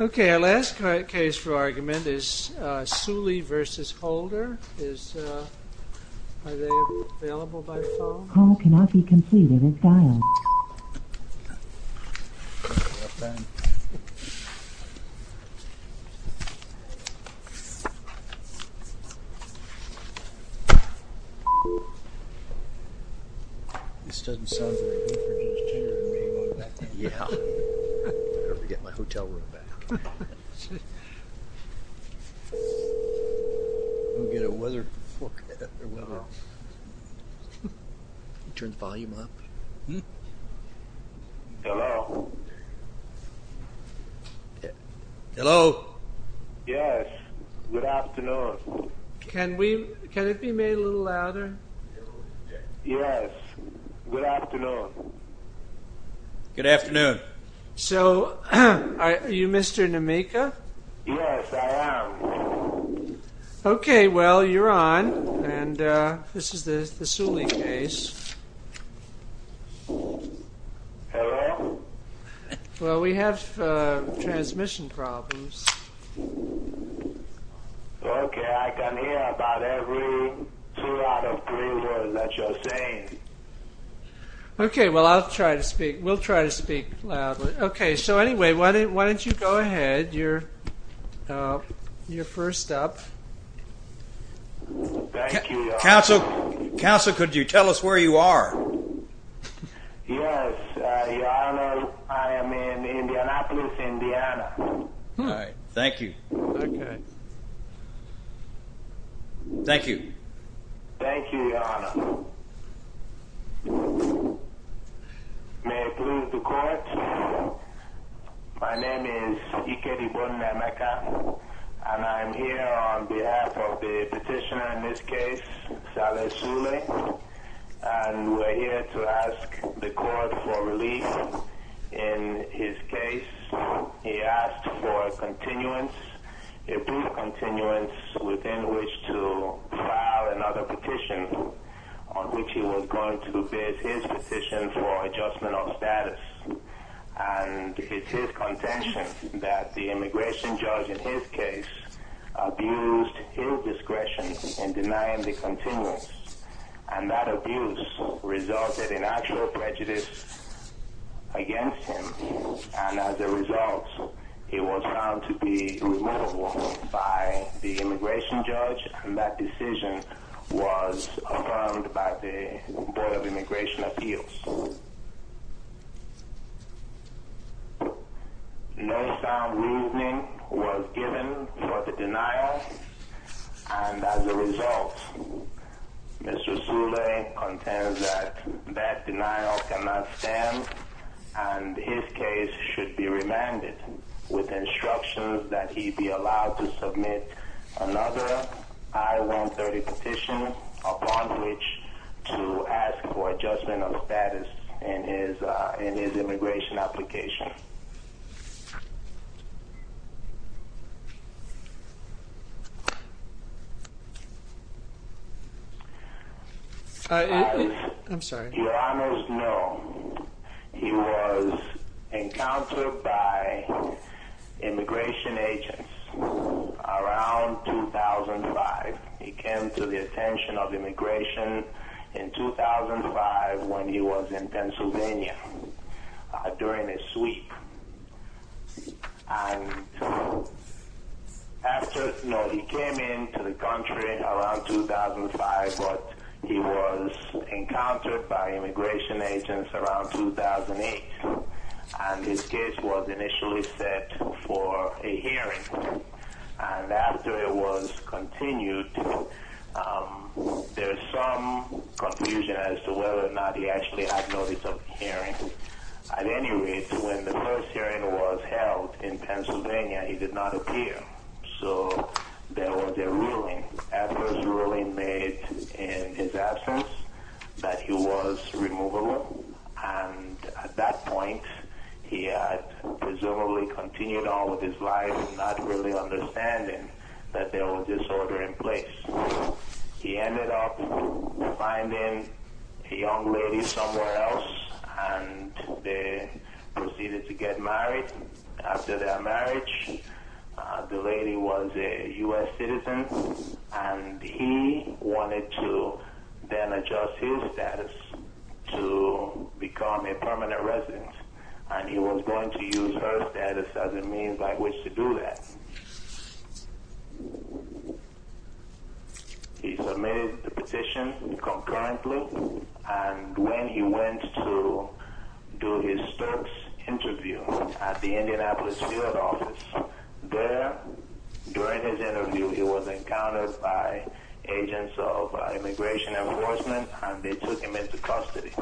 Okay, our last case for argument is Souley v. Holder. Are they available by phone? Call cannot be completed as dialed. You're up, Ben. This doesn't sound very good for just cheering me on, does it? Yeah. I better get my hotel room back. Go get a weather... Turn the volume up. Hello? Hello? Yes, good afternoon. Can we... Can it be made a little louder? Yes, good afternoon. Good afternoon. So, are you Mr. Nameka? Yes, I am. Okay, well, you're on. And this is the Souley case. Hello? Well, we have transmission problems. Okay, I can hear about every two out of three words that you're saying. Okay, well, I'll try to speak. We'll try to speak loudly. Okay, so anyway, why don't you go ahead. You're first up. Thank you. Counsel, counsel, could you tell us where you are? Yes, your honor, I am in Indianapolis, Indiana. All right, thank you. Okay. Thank you. Thank you, your honor. May it please the court. My name is E. K. D. Bowden Nameka. And I'm here on behalf of the petitioner in this case, Saleh Souley. And we're here to ask the court for relief. In his case, he asked for a continuance, a brief continuance, within which to file another petition, on which he was going to base his petition for adjustment of status. And it's his contention that the immigration judge in his case abused his discretion in denying the continuance. And that abuse resulted in actual prejudice against him. And as a result, he was found to be removable by the immigration judge. And that decision was affirmed by the Board of Immigration Appeals. No sound reasoning was given for the denial. And as a result, Mr. Souley contends that that denial cannot stand. And his case should be remanded with instructions that he be allowed to submit another I-130 petition, upon which to ask for adjustment of status in his immigration application. I'm sorry. Your Honors, no. He was encountered by immigration agents around 2005. He came to the attention of immigration in 2005 when he was in Pennsylvania during a sweep. And after, no, he came into the country around 2005, but he was encountered by immigration agents around 2008. And his case was initially set for a hearing. And after it was continued, there was some confusion as to whether or not he actually had notice of hearing. At any rate, when the first hearing was held in Pennsylvania, he did not appear. So there was a ruling, a first ruling made in his absence, that he was removable. And at that point, he had presumably continued on with his life, not really understanding that there was disorder in place. He ended up finding a young lady somewhere else, and they proceeded to get married. After their marriage, the lady was a U.S. citizen, and he wanted to then adjust his status to become a permanent resident. And he was going to use her status as a means by which to do that. He submitted the petition concurrently, and when he went to do his first interview at the Indianapolis Seattle office, there, during his interview, he was encountered by agents of immigration enforcement, and they took him into custody.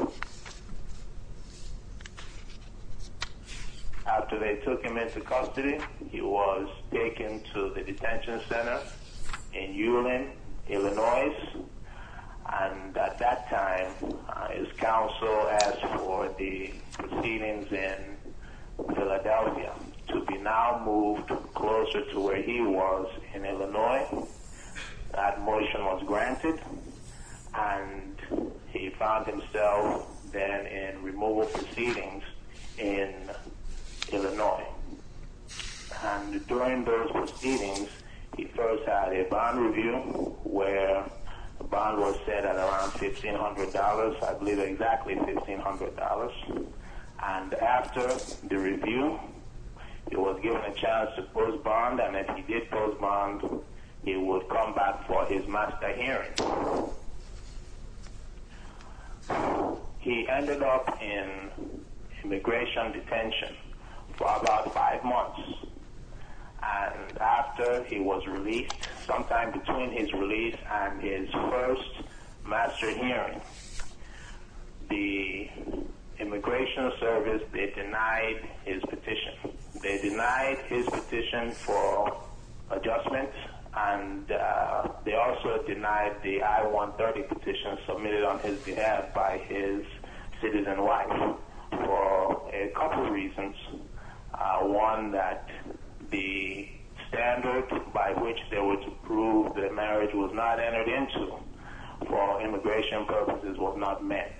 After they took him into custody, he was taken to the detention center in Ewing, Illinois. And at that time, his counsel asked for the proceedings in Philadelphia to be now moved closer to where he was in Illinois. That motion was granted, and he found himself then in removal proceedings in Illinois. And during those proceedings, he first had a bond review, where the bond was set at around $1,500, I believe exactly $1,500. And after the review, he was given a chance to post bond, and if he did post bond, he would come back for his master hearing. He ended up in immigration detention for about five months. And after he was released, sometime between his release and his first master hearing, the immigration service, they denied his petition. They denied his petition for adjustment, and they also denied the I-130 petition submitted on his behalf by his citizen wife for a couple reasons. One, that the standard by which they were to prove that marriage was not entered into for immigration purposes was not met.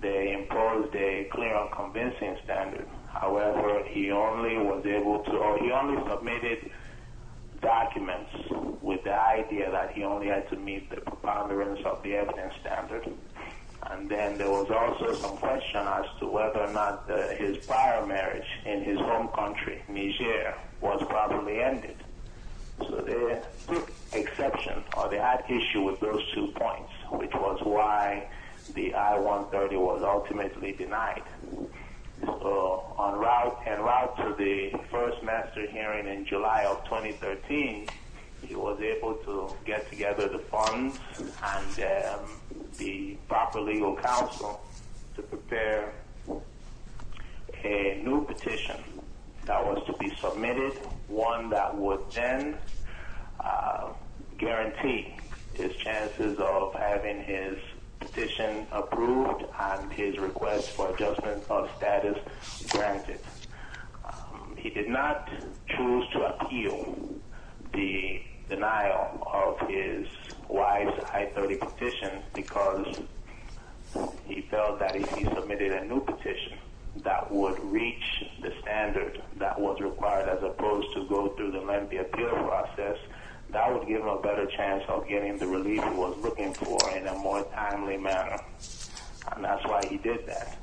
They imposed a clear and convincing standard. However, he only was able to, or he only submitted documents with the idea that he only had to meet the preponderance of the evidence standard. And then there was also some question as to whether or not his prior marriage in his home country, Niger, was properly ended. So they took exception, or they had issue with those two points, which was why the I-130 was ultimately denied. En route to the first master hearing in July of 2013, he was able to get together the funds and the proper legal counsel to prepare a new petition that was to be submitted, one that would then guarantee his chances of having his petition approved and his request for adjustment of status granted. He did not choose to appeal the denial of his wife's I-130 petition because he felt that if he submitted a new petition, that would reach the standard that was required, as opposed to go through the lengthy appeal process, that would give him a better chance of getting the relief he was looking for in a more timely manner. And that's why he did that.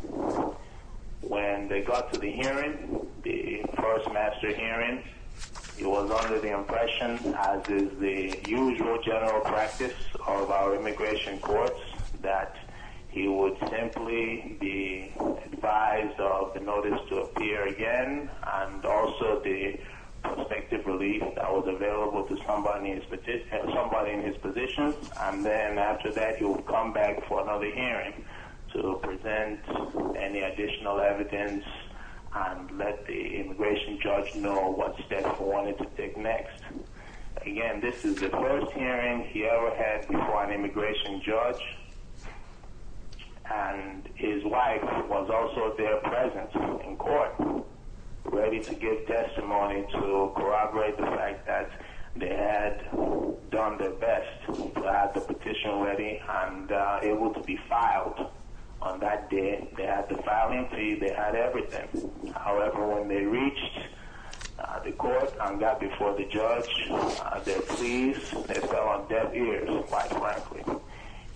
When they got to the hearing, the first master hearing, it was under the impression, as is the usual general practice of our immigration courts, that he would simply be advised of the notice to appear again and also the prospective relief that was available to somebody in his position. And then after that, he would come back for another hearing to present any additional evidence and let the immigration judge know what step he wanted to take next. Again, this is the first hearing he ever had before an immigration judge. And his wife was also there present in court, ready to give testimony to corroborate the fact that they had done their best to have the petition ready and able to be filed on that day. They had the filing fee, they had everything. However, when they reached the court and got before the judge, they were pleased and they fell on deaf ears, quite frankly.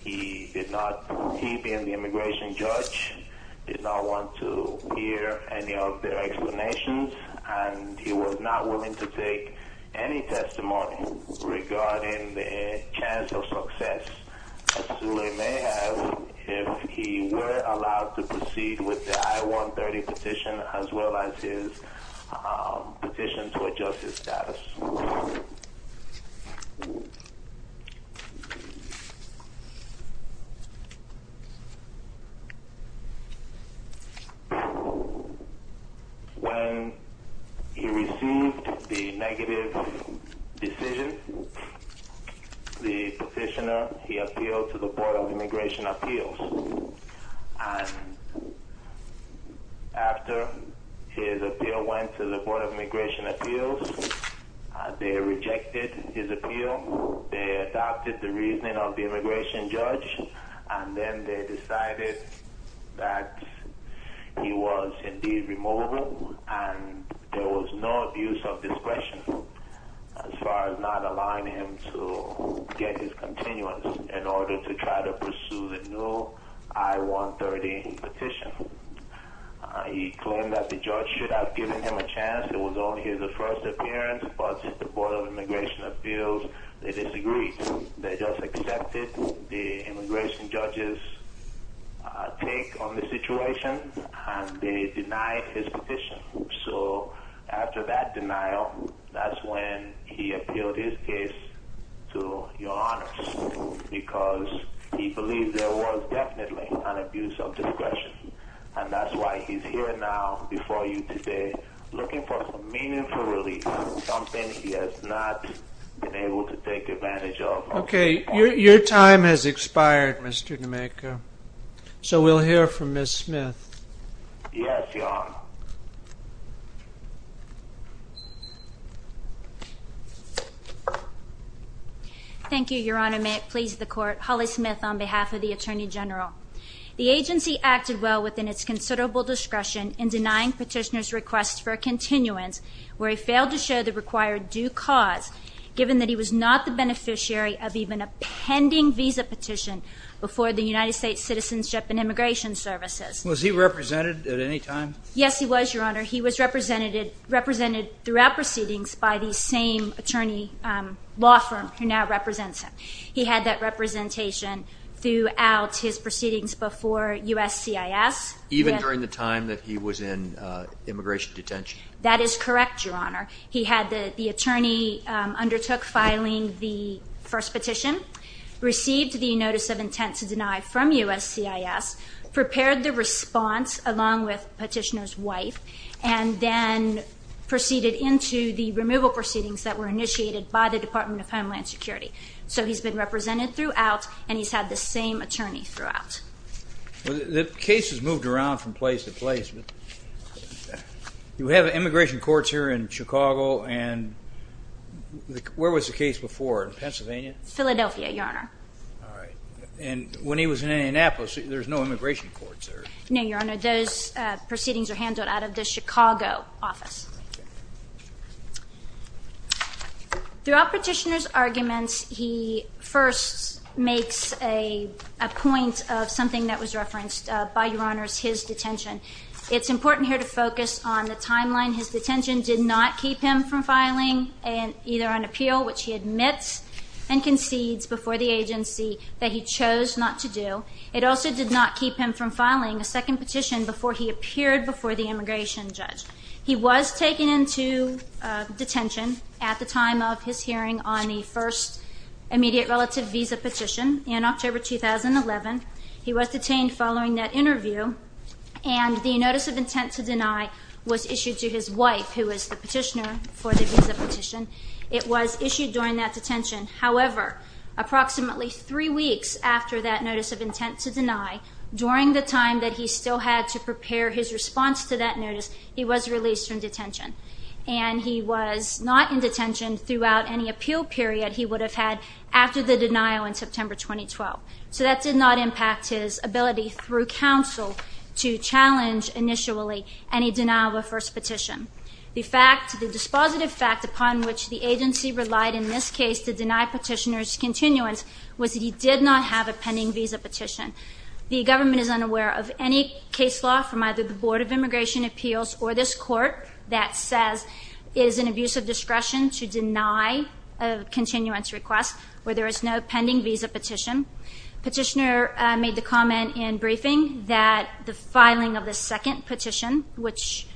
He, being the immigration judge, did not want to hear any of their explanations and he was not willing to take any testimony regarding the chance of success. As Sule may have, if he were allowed to proceed with the I-130 petition as well as his petition to adjust his status. When he received the negative decision, the petitioner, he appealed to the Board of Immigration Appeals. And after his appeal went to the Board of Immigration Appeals, they rejected his appeal. They adopted the reasoning of the immigration judge and then they decided that he was indeed removable and there was no abuse of discretion as far as not allowing him to get his continuance in order to try to pursue the new I-130 petition. He claimed that the judge should have given him a chance. It was only his first appearance. But the Board of Immigration Appeals, they disagreed. They just accepted the immigration judge's take on the situation and they denied his petition. So after that denial, that's when he appealed his case to Your Honor because he believed there was definitely an abuse of discretion. And that's why he's here now before you today looking for some meaningful relief, something he has not been able to take advantage of. Okay, your time has expired, Mr. Nemeka. So we'll hear from Ms. Smith. Yes, Your Honor. Thank you, Your Honor. May it please the Court. Holly Smith on behalf of the Attorney General. The agency acted well within its considerable discretion in denying petitioner's request for a continuance where he failed to show the required due cause given that he was not the beneficiary of even a pending visa petition before the United States Citizenship and Immigration Services. Was he represented at any time? Yes, he was, Your Honor. He was represented throughout proceedings by the same attorney law firm who now represents him. He had that representation throughout his proceedings before USCIS. Even during the time that he was in immigration detention? That is correct, Your Honor. He had the attorney undertook filing the first petition, received the notice of intent to deny from USCIS, prepared the response along with petitioner's wife, and then proceeded into the removal proceedings that were initiated by the Department of Homeland Security. So he's been represented throughout, and he's had the same attorney throughout. The case has moved around from place to place. You have immigration courts here in Chicago, and where was the case before, in Pennsylvania? Philadelphia, Your Honor. All right. And when he was in Indianapolis, there's no immigration courts there? No, Your Honor. Those proceedings are handled out of the Chicago office. Okay. Throughout petitioner's arguments, he first makes a point of something that was referenced by, Your Honor, his detention. It's important here to focus on the timeline. His detention did not keep him from filing either an appeal, which he admits and concedes before the agency, that he chose not to do. It also did not keep him from filing a second petition before he appeared before the immigration judge. He was taken into detention at the time of his hearing on the first immediate relative visa petition in October 2011. He was detained following that interview, and the notice of intent to deny was issued to his wife, who was the petitioner for the visa petition. It was issued during that detention. However, approximately three weeks after that notice of intent to deny, during the time that he still had to prepare his response to that notice, he was released from detention. And he was not in detention throughout any appeal period he would have had after the denial in September 2012. So that did not impact his ability through counsel to challenge initially any denial of a first petition. The fact, the dispositive fact, upon which the agency relied in this case to deny petitioner's continuance was that he did not have a pending visa petition. The government is unaware of any case law from either the Board of Immigration Appeals or this court that says it is an abuse of discretion to deny a continuance request where there is no pending visa petition. Petitioner made the comment in briefing that the filing of the second petition, which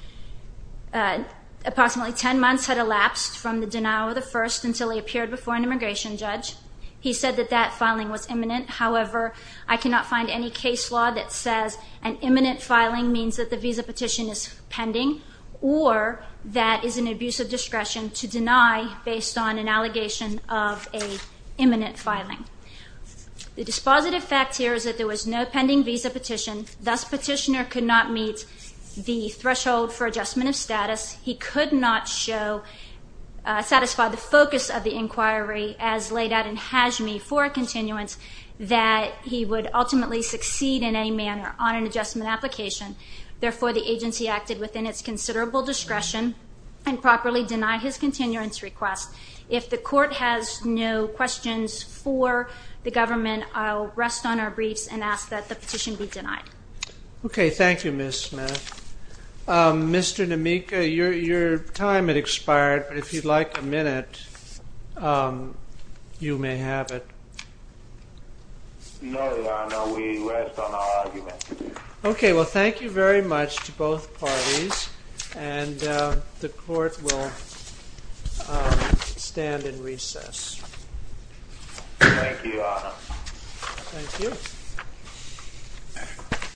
approximately 10 months had elapsed from the denial of the first until he appeared before an immigration judge, he said that that filing was imminent. However, I cannot find any case law that says an imminent filing means that the visa petition is pending or that is an abuse of discretion to deny based on an allegation of an imminent filing. The dispositive fact here is that there was no pending visa petition. Thus, petitioner could not meet the threshold for adjustment of status. He could not show, satisfy the focus of the inquiry as laid out in HAJME for a continuance that he would ultimately succeed in any manner on an adjustment application. Therefore, the agency acted within its considerable discretion and properly denied his continuance request. If the court has no questions for the government, I'll rest on our briefs and ask that the petition be denied. Okay. Thank you, Ms. Smith. Mr. Nemeka, your time has expired. If you'd like a minute, you may have it. No, Your Honor. We rest on our arguments. Okay. Well, thank you very much to both parties. And the court will stand in recess. Thank you, Your Honor. Thank you.